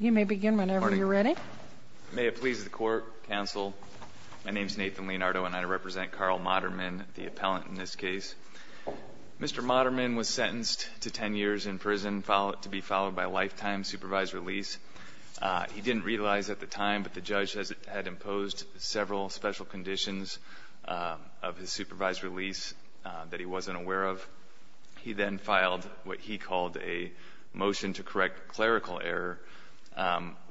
You may begin whenever you're ready. May it please the court, counsel, my name is Nathan Leonardo and I represent Karl Modderman, the appellant in this case. Mr. Modderman was sentenced to 10 years in prison to be followed by lifetime supervised release. He didn't realize at the time, but the judge had imposed several special conditions of his supervised release that he wasn't aware of,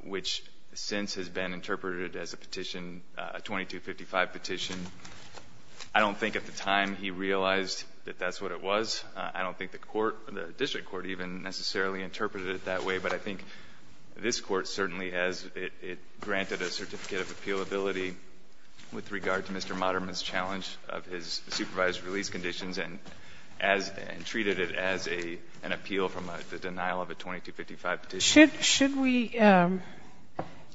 which since has been interpreted as a petition, a 2255 petition. I don't think at the time he realized that that's what it was. I don't think the court, the district court, even necessarily interpreted it that way. But I think this Court certainly has, it granted a certificate of appealability with regard to Mr. Modderman's challenge of his supervised release conditions and treated it as an appeal from the denial of a 2255 petition. Should we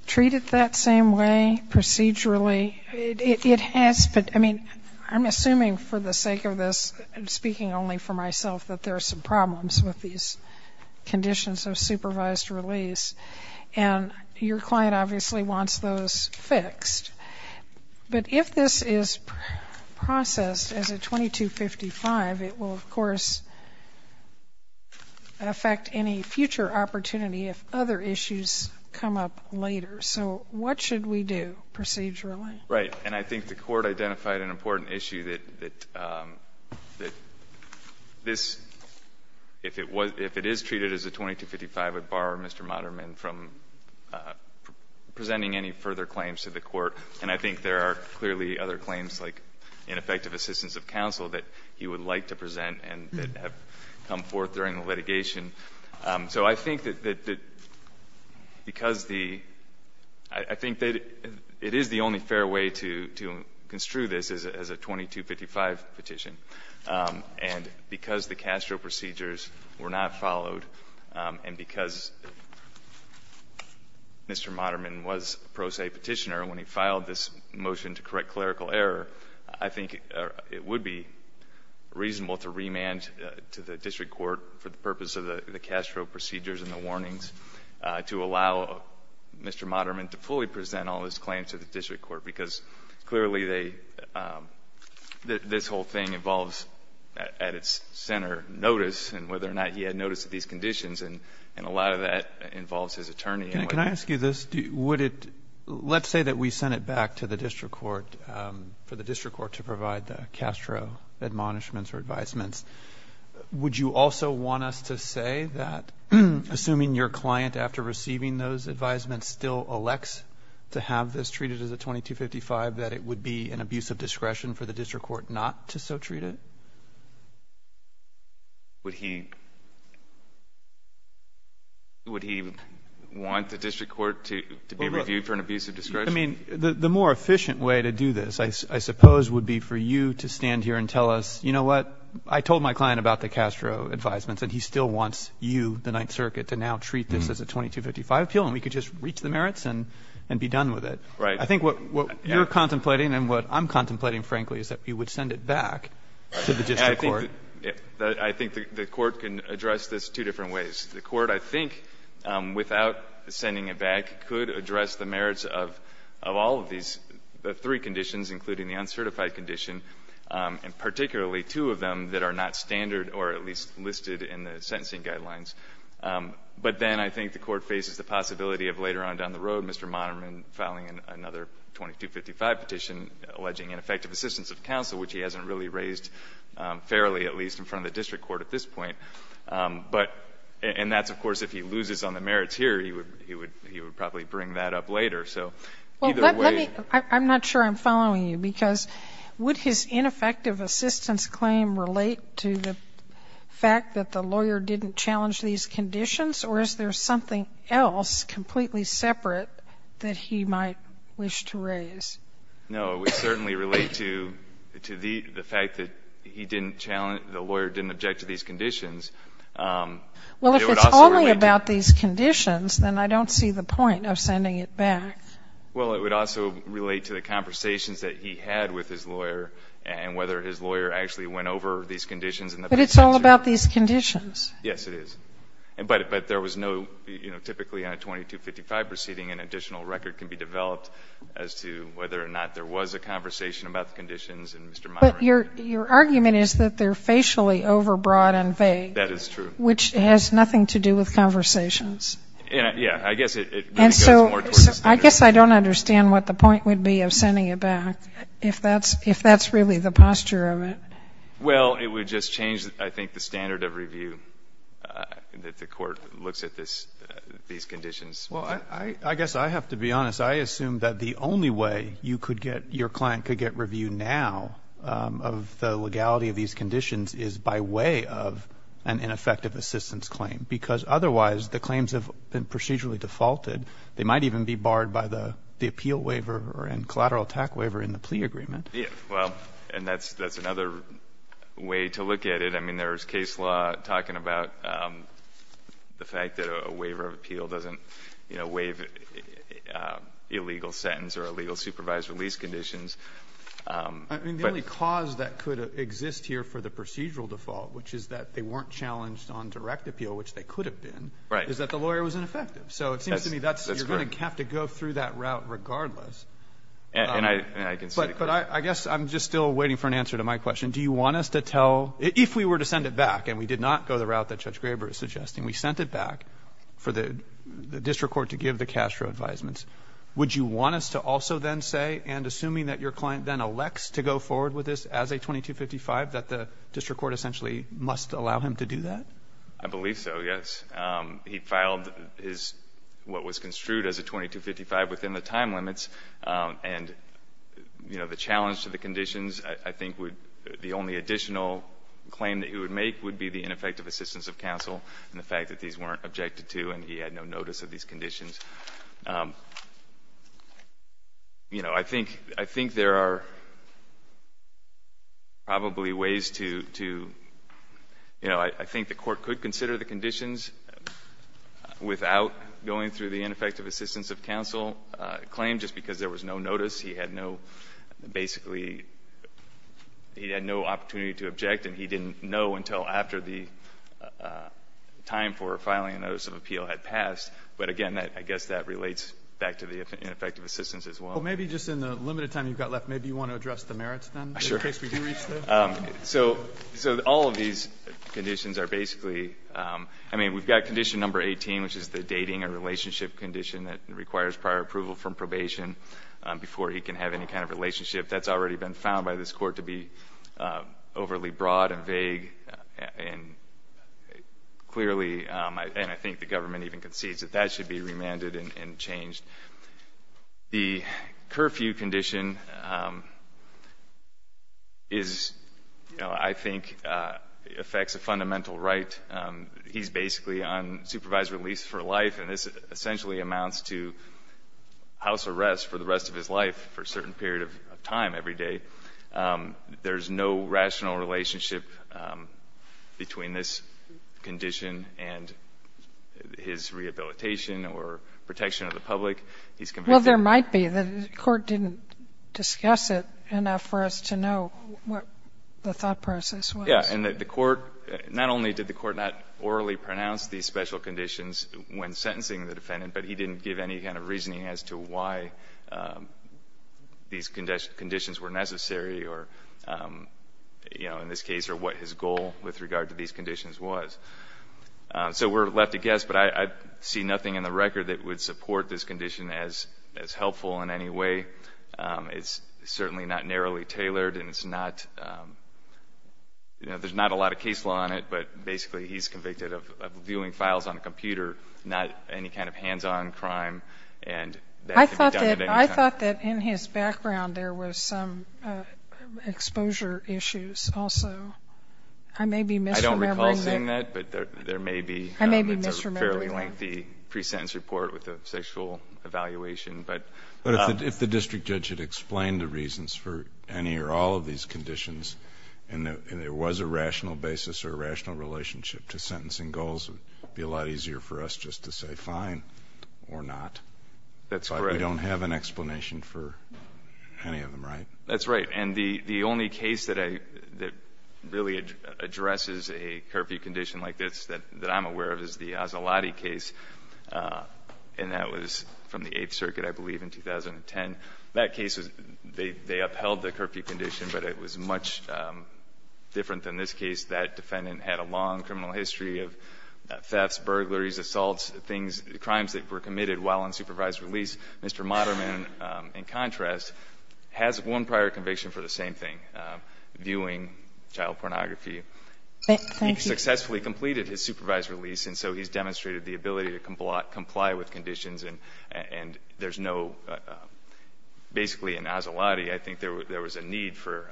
treat it that same way procedurally? It has, I mean, I'm assuming for the sake of this, I'm speaking only for myself, that there are some problems with these conditions of supervised release. And your client obviously wants those fixed. But if this is processed as a 2255, it will, of course, affect any future opportunity if other issues come up later. So what should we do procedurally? Right. And I think the court identified an important issue that this, if it is treated as a 2255, it would bar Mr. Modderman from presenting any further claims to the court. And I think there are clearly other claims like ineffective assistance of counsel that he would like to present and that have come forth during the process. So I think that because the, I think that it is the only fair way to construe this as a 2255 petition. And because the Castro procedures were not followed and because Mr. Modderman was pro se petitioner when he filed this motion to correct clerical error, I think it would be reasonable to remand to the district court for the purpose of the Castro procedures and the warnings to allow Mr. Modderman to fully present all his claims to the district court. Because clearly they, this whole thing involves at its center notice and whether or not he had notice of these conditions. And a lot of that involves his attorney. Can I ask you this? Would it, let's say that we sent it back to the district court, for the district court to provide the Castro admonishments or advisements. Would you also want us to say that, assuming your client after receiving those advisements still elects to have this treated as a 2255, that it would be an abusive discretion for the district court not to so treat it? Would he, would he want the district court to be reviewed for an abusive discretion? I mean, the more efficient way to do this, I suppose, would be for you to stand here and tell us, you know what, I told my client about the Castro advisements and he still wants you, the Ninth Circuit, to now treat this as a 2255 appeal and we could just reach the merits and be done with it. Right. I think what you're contemplating and what I'm contemplating, frankly, is that we would send it back to the district court. I think the court can address this two different ways. The court, I think, without sending it back, could address the merits of all of these, the three conditions, including the uncertified condition, and particularly two of them that are not standard or at least listed in the sentencing guidelines, but then I think the court faces the possibility of later on down the road, Mr. Monerman filing another 2255 petition alleging ineffective assistance of counsel, which he hasn't really raised fairly, at least in front of the district court at this point, but, and that's, of course, if he loses on the merits here, he would, he would, he would probably bring that up later. So either way. Well, let me, I'm not sure I'm following you because would his ineffective assistance claim relate to the fact that the lawyer didn't challenge these conditions or is there something else completely separate that he might wish to raise? No, it would certainly relate to the fact that he didn't challenge, the lawyer didn't object to these conditions. Well, if it's only about these conditions, then I don't see the point of sending it back. Well, it would also relate to the conversations that he had with his lawyer and whether his lawyer actually went over these conditions in the past. But it's all about these conditions. Yes, it is. But there was no, you know, typically on a 2255 proceeding an additional record can be developed as to whether or not there was a conversation about the conditions and Mr. Monerman. But your argument is that they're facially overbroad and vague. That is true. Which has nothing to do with conversations. Yes, I guess it goes more towards the standard of review. I guess I don't understand what the point would be of sending it back if that's really the posture of it. Well, it would just change, I think, the standard of review that the court looks at these conditions. Well, I guess I have to be honest. I assume that the only way you could get, your client could get review now of the legality of these conditions is by way of an ineffective assistance claim because otherwise the claims have been procedurally defaulted. They might even be barred by the appeal waiver and collateral attack waiver in the plea agreement. Yes, well, and that's another way to look at it. I mean, there's case law talking about the fact that a waiver of appeal doesn't, you know, waive illegal sentence or illegal supervised release conditions. I mean, the only cause that could exist here for the procedural default, which is that they weren't challenged on direct appeal, which they could have been, is that the lawyer was ineffective. So it seems to me that you're going to have to go through that route regardless. And I can see that. But I guess I'm just still waiting for an answer to my question. Do you want us to tell, if we were to send it back, and we did not go the route that Judge Graber is suggesting, we sent it back for the district court to give the cash for advisements, would you want us to also then say, and assuming that your client then elects to go forward with this as a 2255, that the district court essentially must allow him to do that? I believe so, yes. He filed his, what was construed as a 2255 within the time limits. And, you know, the challenge to the conditions, I think would, the only additional claim that he would make would be the ineffective assistance of counsel and the fact that these weren't objected to and he had no notice of these conditions. You know, I think there are probably ways to, you know, I think the court could consider the conditions without going through the ineffective assistance of counsel claim just because there was no notice. He had no, basically, he had no opportunity to object and he didn't know until after the time for filing a notice of appeal had passed. But again, I guess that relates back to the ineffective assistance as well. Well, maybe just in the limited time you've got left, maybe you want to address the merits then, in case we do reach there? So, all of these conditions are basically, I mean, we've got condition number 18, which is the dating and relationship condition that requires prior approval from probation before he can have any kind of relationship. That's already been found by this court to be overly broad and vague. And clearly, and I think the government even concedes that that should be remanded and changed. The curfew condition is, you know, I think affects a fundamental right. He's basically on supervised release for life and this essentially amounts to house arrest for the rest of his life for a certain period of time every day. There's no rational relationship between this condition and his rehabilitation or protection of the public. He's completely... Well, there might be. The court didn't discuss it enough for us to know what the thought process was. Yeah. And the court, not only did the court not orally pronounce these special conditions when sentencing the defendant, but he didn't give any kind of reasoning as to why these conditions were necessary. Or, you know, in this case, or what his goal with regard to these conditions was. So we're left to guess, but I see nothing in the record that would support this condition as helpful in any way. It's certainly not narrowly tailored and it's not, you know, there's not a lot of case law on it, but basically he's convicted of viewing files on a computer, not any kind of hands-on crime. And that can be done at any time. I thought that in his background, there was some exposure issues also. I may be misremembering that. I don't recall seeing that, but there may be. I may be misremembering that. It's a fairly lengthy pre-sentence report with a sexual evaluation, but... But if the district judge had explained the reasons for any or all of these conditions and there was a rational basis or a rational relationship to sentencing goals, it would be a lot easier for us just to say, fine, or not. That's correct. We don't have an explanation for any of them, right? That's right. And the only case that really addresses a curfew condition like this that I'm aware of is the Azalotti case, and that was from the Eighth Circuit, I believe, in 2010. That case, they upheld the curfew condition, but it was much different than this case. That defendant had a long criminal history of thefts, burglaries, assaults, things, crimes that were committed while on supervised release. Mr. Moderman, in contrast, has one prior conviction for the same thing, viewing child pornography. He successfully completed his supervised release, and so he's demonstrated the ability to comply with conditions. And there's no, basically in Azalotti, I think there was a need for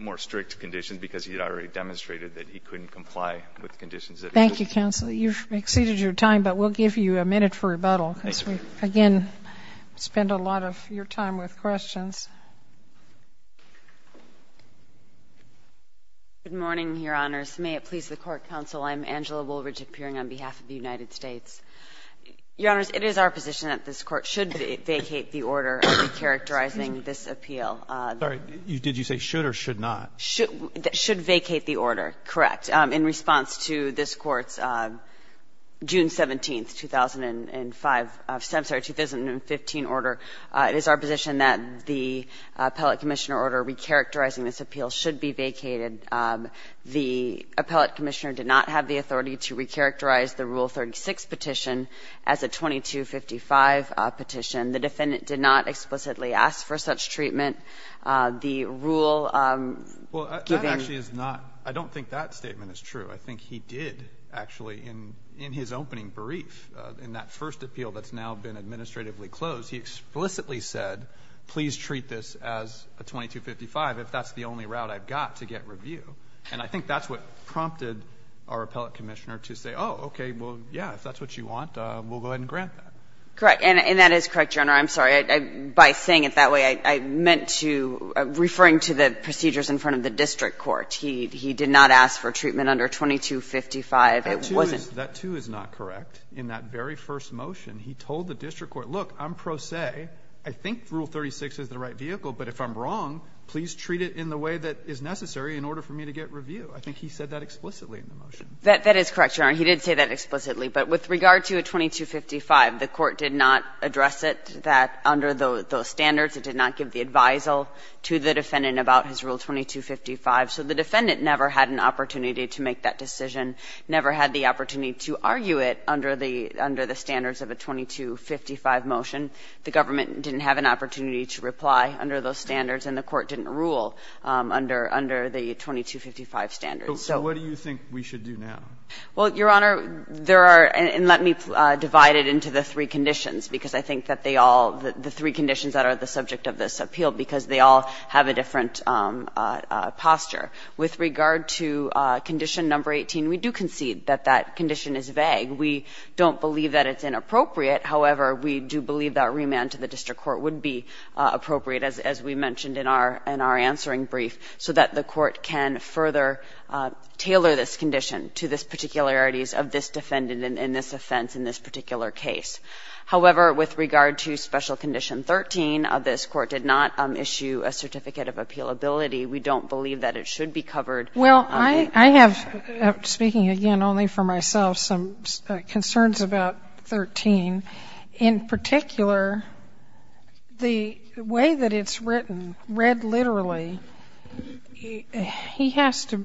more strict conditions because he had already demonstrated that he couldn't comply with conditions. Thank you, counsel. You've exceeded your time, but we'll give you a minute for rebuttal. Again, we spend a lot of your time with questions. Good morning, Your Honors. May it please the Court, counsel. I'm Angela Woolridge, appearing on behalf of the United States. Your Honors, it is our position that this Court should vacate the order characterizing this appeal. Sorry. Did you say should or should not? Should vacate the order, correct. In response to this Court's June 17th, 2005, I'm sorry, 2015 order, it is our position that the appellate commissioner order recharacterizing this appeal should be vacated. The appellate commissioner did not have the authority to recharacterize the Rule 36 petition as a 2255 petition. The defendant did not explicitly ask for such treatment. The rule giving you the authority to recharacterize the Rule 36 petition as a 2255 petition, the defendant did not explicitly ask for such treatment. I think he did, actually, in his opening brief, in that first appeal that's now been administratively closed, he explicitly said, please treat this as a 2255 if that's the only route I've got to get review. And I think that's what prompted our appellate commissioner to say, oh, okay, well, yeah, if that's what you want, we'll go ahead and grant that. Correct. And that is correct, Your Honor. I'm sorry. By saying it that way, I meant to – referring to the procedures in front of the district court. He did not ask for treatment under 2255. It wasn't – That, too, is not correct. In that very first motion, he told the district court, look, I'm pro se. I think Rule 36 is the right vehicle, but if I'm wrong, please treat it in the way that is necessary in order for me to get review. I think he said that explicitly in the motion. That is correct, Your Honor. He did say that explicitly. But with regard to a 2255, the court did not address it that – under those standards. It did not give the advisal to the defendant about his Rule 2255. So the defendant never had an opportunity to make that decision, never had the opportunity to argue it under the standards of a 2255 motion. The government didn't have an opportunity to reply under those standards, and the court didn't rule under the 2255 standards. So what do you think we should do now? Well, Your Honor, there are – and let me divide it into the three conditions, because I think that they all – the three conditions that are the subject of this posture. With regard to condition number 18, we do concede that that condition is vague. We don't believe that it's inappropriate. However, we do believe that remand to the district court would be appropriate, as we mentioned in our – in our answering brief, so that the court can further tailor this condition to the particularities of this defendant in this offense, in this particular case. However, with regard to special condition 13, this court did not issue a certificate of appealability. We don't believe that it should be covered. Well, I have – speaking again only for myself – some concerns about 13. In particular, the way that it's written, read literally, he has to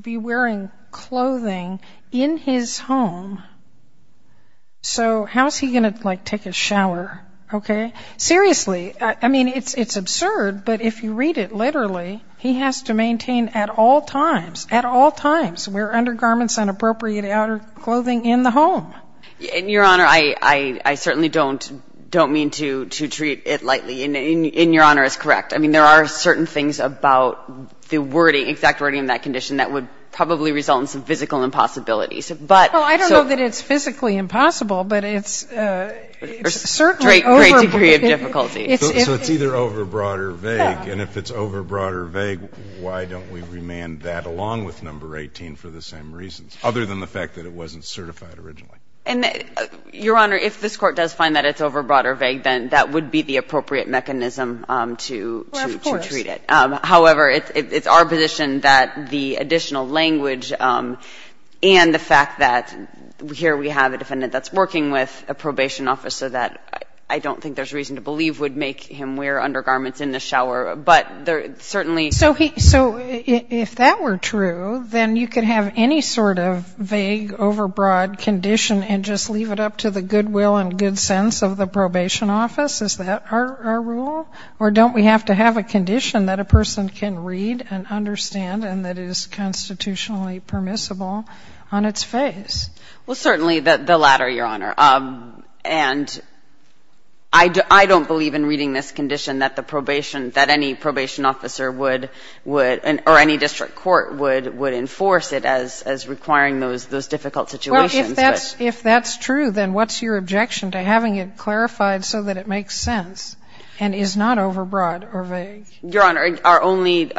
be wearing clothing in his home, so how's he going to, like, take a shower, okay? Seriously, I mean, it's absurd, but if you read it literally, he has to maintain at all times, at all times, wear undergarments, inappropriate outer clothing in the home. And, Your Honor, I certainly don't mean to treat it lightly. And Your Honor is correct. I mean, there are certain things about the wording, exact wording of that condition that would probably result in some physical impossibilities, but – Well, I don't know that it's physically impossible, but it's certainly over – It's a great, great degree of difficulty. So it's either overbroad or vague. And if it's overbroad or vague, why don't we remand that along with number 18 for the same reasons, other than the fact that it wasn't certified originally? And, Your Honor, if this Court does find that it's overbroad or vague, then that would be the appropriate mechanism to treat it. Well, of course. However, it's our position that the additional language and the fact that here we have a defendant that's working with a probation officer that I don't think there's reason to believe would make him wear undergarments in the shower. But certainly – So if that were true, then you could have any sort of vague, overbroad condition and just leave it up to the goodwill and good sense of the probation office? Is that our rule? Or don't we have to have a condition that a person can read and understand and that is constitutionally permissible on its face? Well, certainly the latter, Your Honor. And I don't believe in reading this condition that the probation – that any probation officer would – or any district court would enforce it as requiring those difficult situations. Well, if that's true, then what's your objection to having it clarified so that it makes sense and is not overbroad or vague? Your Honor, our only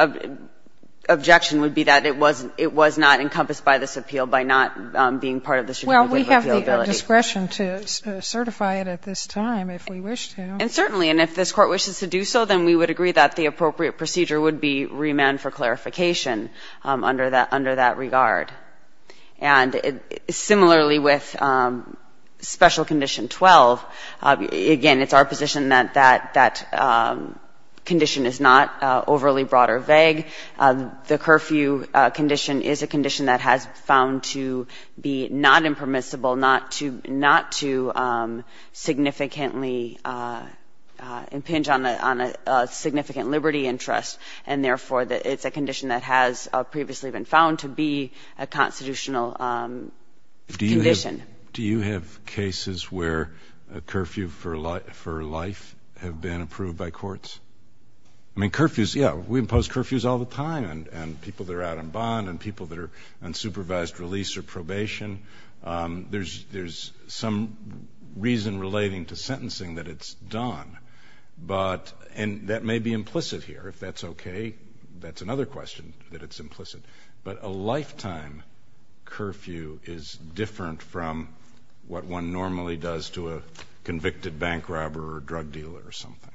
objection would be that it was not encompassed by this appeal by not being part of the statute of repealability. Well, we have the discretion to certify it at this time if we wish to. And certainly. And if this Court wishes to do so, then we would agree that the appropriate procedure would be remand for clarification under that regard. And similarly with Special Condition 12, again, it's our position that that condition is not overly broad or vague. The curfew condition is a condition that has found to be not impermissible, not to significantly impinge on a significant liberty interest. And therefore, it's a condition that has previously been found to be a constitutional condition. Do you have cases where a curfew for life have been approved by courts? I mean, curfews, yeah, we impose curfews all the time. And people that are out on bond and people that are on supervised release or probation, there's some reason relating to sentencing that it's done. And that may be implicit here. If that's okay, that's another question, that it's implicit. But a lifetime curfew is different from what one normally does to a convicted bank robber or drug dealer or something.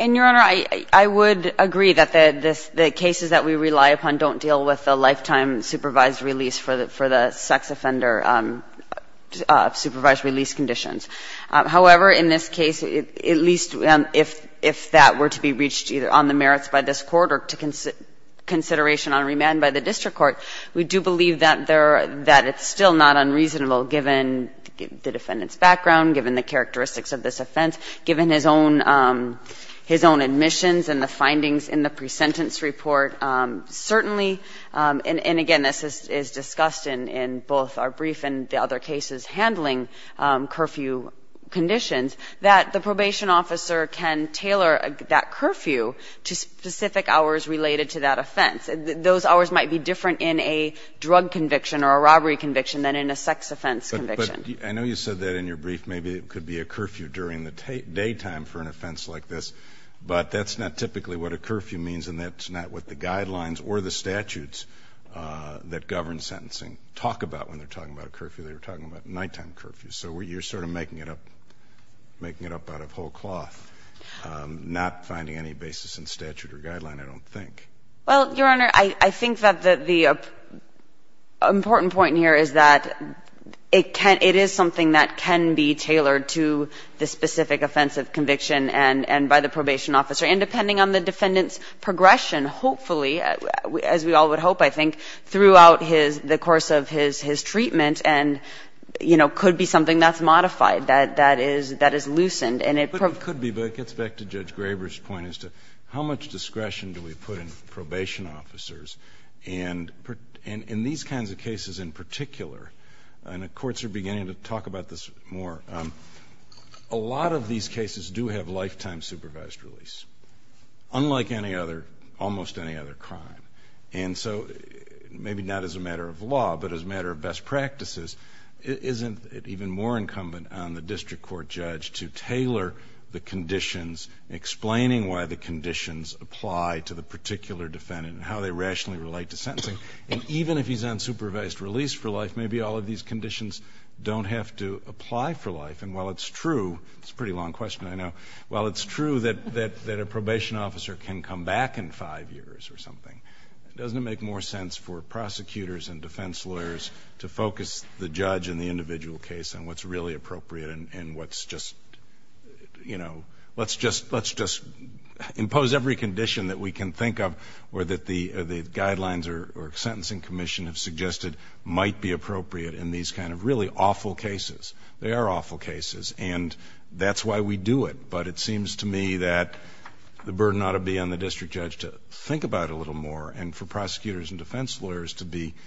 And, Your Honor, I would agree that the cases that we rely upon don't deal with a lifetime supervised release for the sex offender, supervised release conditions. However, in this case, at least if that were to be reached either on the merits by this Court or to consideration on remand by the district court, we do believe that it's still not unreasonable given the defendant's background, given the characteristics of this offense, given his own admissions and the findings in the presentence report. Certainly, and again, this is discussed in both our brief and the other cases handling curfew conditions, that the probation officer can tailor that curfew to specific hours related to that offense. Those hours might be different in a drug conviction or a robbery conviction than in a sex offense conviction. But I know you said that in your brief. Maybe it could be a curfew during the daytime for an offense like this. But that's not typically what a curfew means, and that's not what the guidelines or the statutes that govern sentencing talk about when they're talking about a curfew. They're talking about nighttime curfews. So you're sort of making it up, making it up out of whole cloth, not finding any basis in statute or guideline, I don't think. Well, Your Honor, I think that the important point here is that it can't – it is something that can be tailored to the specific offense of conviction and by the probation officer. And depending on the defendant's progression, hopefully, as we all would hope, I think, throughout his – the course of his treatment and, you know, could be something that's modified, that is loosened. But it could be, but it gets back to Judge Graber's point as to how much discretion do we put in probation officers. And in these kinds of cases in particular, and the courts are beginning to talk about this more, a lot of these cases do have lifetime supervised release, unlike any other – almost any other crime. And so, maybe not as a matter of law, but as a matter of best practices, isn't it even more incumbent on the district court judge to tailor the conditions, explaining why the conditions apply to the particular defendant and how they rationally relate to sentencing? And even if he's on supervised release for life, maybe all of these conditions don't have to apply for life. And while it's true – it's a pretty long question, I know – while it's true that a probation officer can come back in five years or something, doesn't it make more sense for prosecutors and defense lawyers to focus the judge and the individual case on what's really appropriate and what's just – let's just impose every condition that we can think of or that the guidelines or sentencing commission have suggested might be appropriate in these kind of really awful cases? They are awful cases. And that's why we do it. But it seems to me that the burden ought to be on the district judge to think about it a little more and for prosecutors and defense lawyers to be –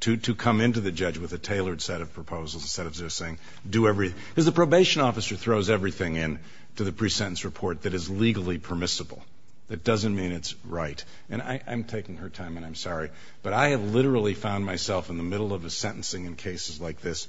to come into the judge with a tailored set of proposals instead of just saying, do every – because the probation officer throws everything in to the pre-sentence report that is legally permissible. That doesn't mean it's right. And I'm taking her time, and I'm sorry, but I have literally found myself in the middle of a sentencing in cases like this,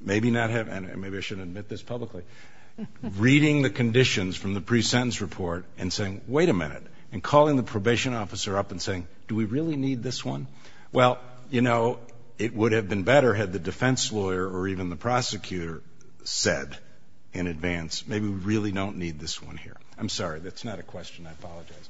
maybe not have – and maybe I shouldn't admit this publicly – reading the conditions from the pre-sentence report and saying, wait a minute, and calling the probation officer up and saying, do we really need this one? Well, you know, it would have been better had the defense lawyer or even the prosecutor said in advance, maybe we really don't need this one here. I'm sorry. That's not a question. I apologize.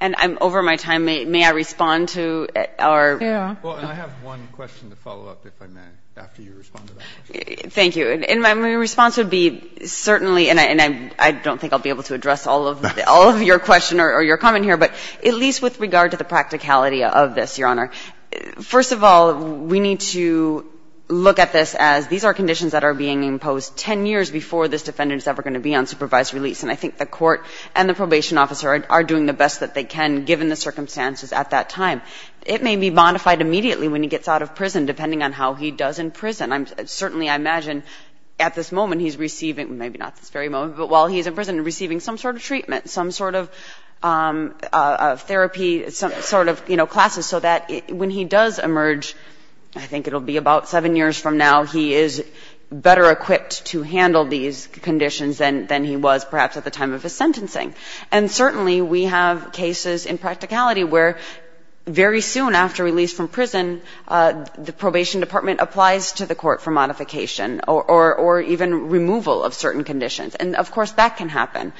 And over my time, may I respond to our – Yeah. Well, and I have one question to follow up, if I may, after you respond to that question. Thank you. And my response would be certainly – and I don't think I'll be able to address all of your question or your comment here, but at least with regard to the practicality of this, Your Honor, first of all, we need to look at this as these are conditions that are being imposed 10 years before this defendant is ever going to be on supervised release. And I think the court and the probation officer are doing the best that they can, given the circumstances at that time. It may be modified immediately when he gets out of prison, depending on how he does in prison. Certainly, I imagine at this moment he's receiving – maybe not this very moment, but while he's in prison, receiving some sort of treatment, some sort of therapy, some sort of, you know, classes, so that when he does emerge, I think it'll be about seven years from now, he is better equipped to handle these conditions than he was perhaps at the time of his sentencing. And certainly, we have cases in practicality where very soon after release from prison, the probation department applies to the court for modification or even removal of certain conditions. And, of course, that can happen.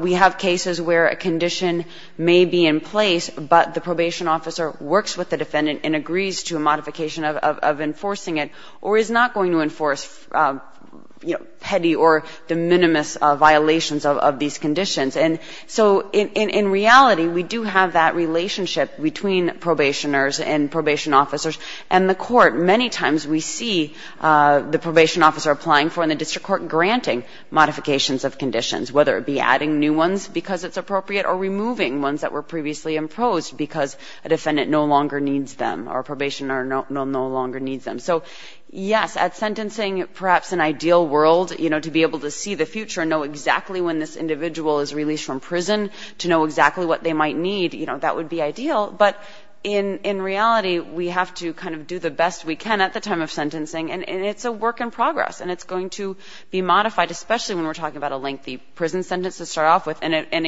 We have cases where a condition may be in place, but the probation officer works with the defendant and agrees to a modification of enforcing it, or is not going to enforce, you know, petty or de minimis violations of these conditions. And so in reality, we do have that relationship between probationers and probation officers. And the court, many times we see the probation officer applying for and the district court granting modifications of conditions, whether it be adding new ones because it's appropriate, or removing ones that were previously imposed because a defendant no longer needs them, or a probationer no longer needs them. So, yes, at sentencing, perhaps an ideal world, you know, to be able to see the future and know exactly when this individual is released from prison, to know exactly what they might need, you know, that would be ideal. But in reality, we have to kind of do the best we can at the time of sentencing. And it's a work in progress, and it's going to be modified, especially when we're talking about a lengthy prison sentence to start off with, and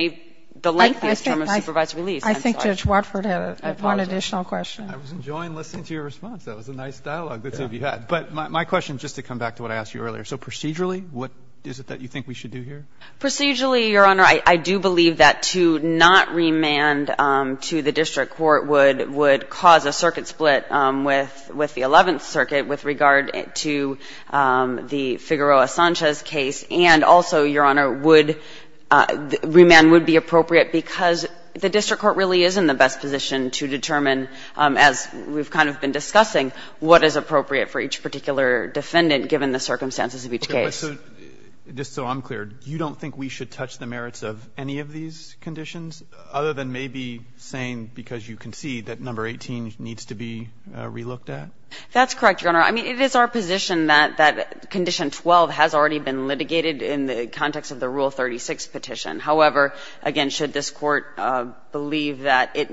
the lengthiest term of supervised release. I'm sorry. I think Judge Watford had one additional question. I was enjoying listening to your response. That was a nice dialogue the two of you had. But my question, just to come back to what I asked you earlier, so procedurally, what is it that you think we should do here? Procedurally, Your Honor, I do believe that to not remand to the district court would cause a circuit split with the Eleventh Circuit with regard to the Figueroa Sanchez case. And also, Your Honor, would remand would be appropriate because the district court really is in the best position to determine, as we've kind of been discussing, what is appropriate for each particular defendant given the circumstances of each case. Okay. But so, just so I'm clear, you don't think we should touch the merits of any of these conditions other than maybe saying because you concede that number 18 needs to be relooked at? That's correct, Your Honor. I mean, it is our position that Condition 12 has already been litigated in the context of the Rule 36 petition. However, again, should this court believe that it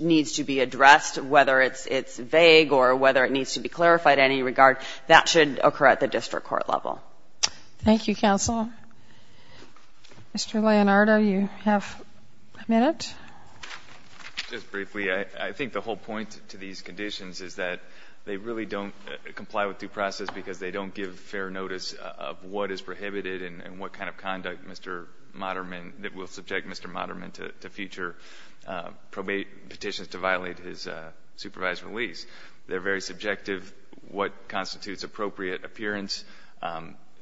needs to be addressed, whether it's vague or whether it needs to be clarified in any regard, that should occur at the district court level. Thank you, counsel. Mr. Leonardo, you have a minute. Just briefly, I think the whole point to these conditions is that they really don't comply with due process because they don't give fair notice of what is prohibited and what kind of conduct Mr. Moderman, that will subject Mr. Moderman to future probate petitions to violate his supervised release. They're very subjective what constitutes appropriate appearance.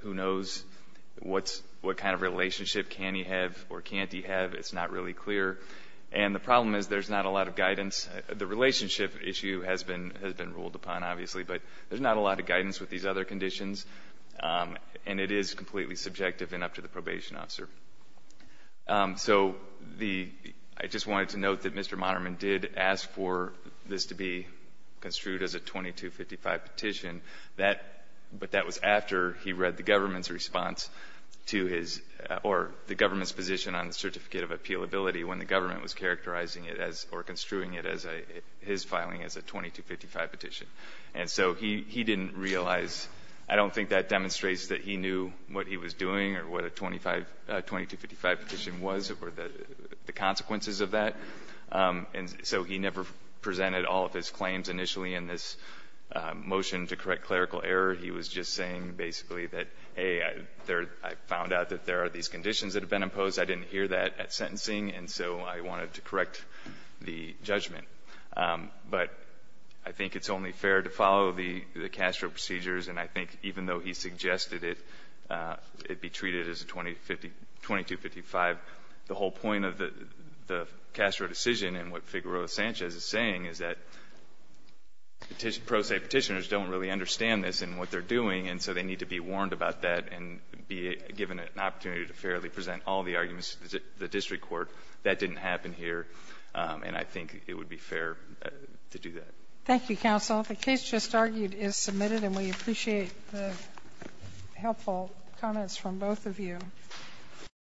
Who knows what kind of relationship can he have or can't he have? It's not really clear. And the problem is there's not a lot of guidance. The relationship issue has been ruled upon, obviously, but there's not a lot of guidance with these other conditions. And it is completely subjective and up to the probation officer. So I just wanted to note that Mr. Moderman did ask for this to be construed as a 2255 petition. But that was after he read the government's response to his or the government's position on the certificate of appealability when the government was characterizing it as or construing it as his filing as a 2255 petition. And so he didn't realize. I don't think that demonstrates that he knew what he was doing or what a 2255 petition was or the consequences of that. And so he never presented all of his claims initially in this motion to correct clerical error. He was just saying basically that, hey, I found out that there are these conditions that have been imposed. I didn't hear that at sentencing, and so I wanted to correct the judgment. But I think it's only fair to follow the Castro procedures, and I think even though he suggested it be treated as a 2255, the whole point of the Castro decision and what Figueroa Sanchez is saying is that pro se petitioners don't really understand this and what they're doing, and so they need to be warned about that and be given an opportunity to fairly present all the arguments to the district court. That didn't happen here, and I think it would be fair to do that. Thank you, Counsel. The case just argued is submitted, and we appreciate the helpful comments from both of you.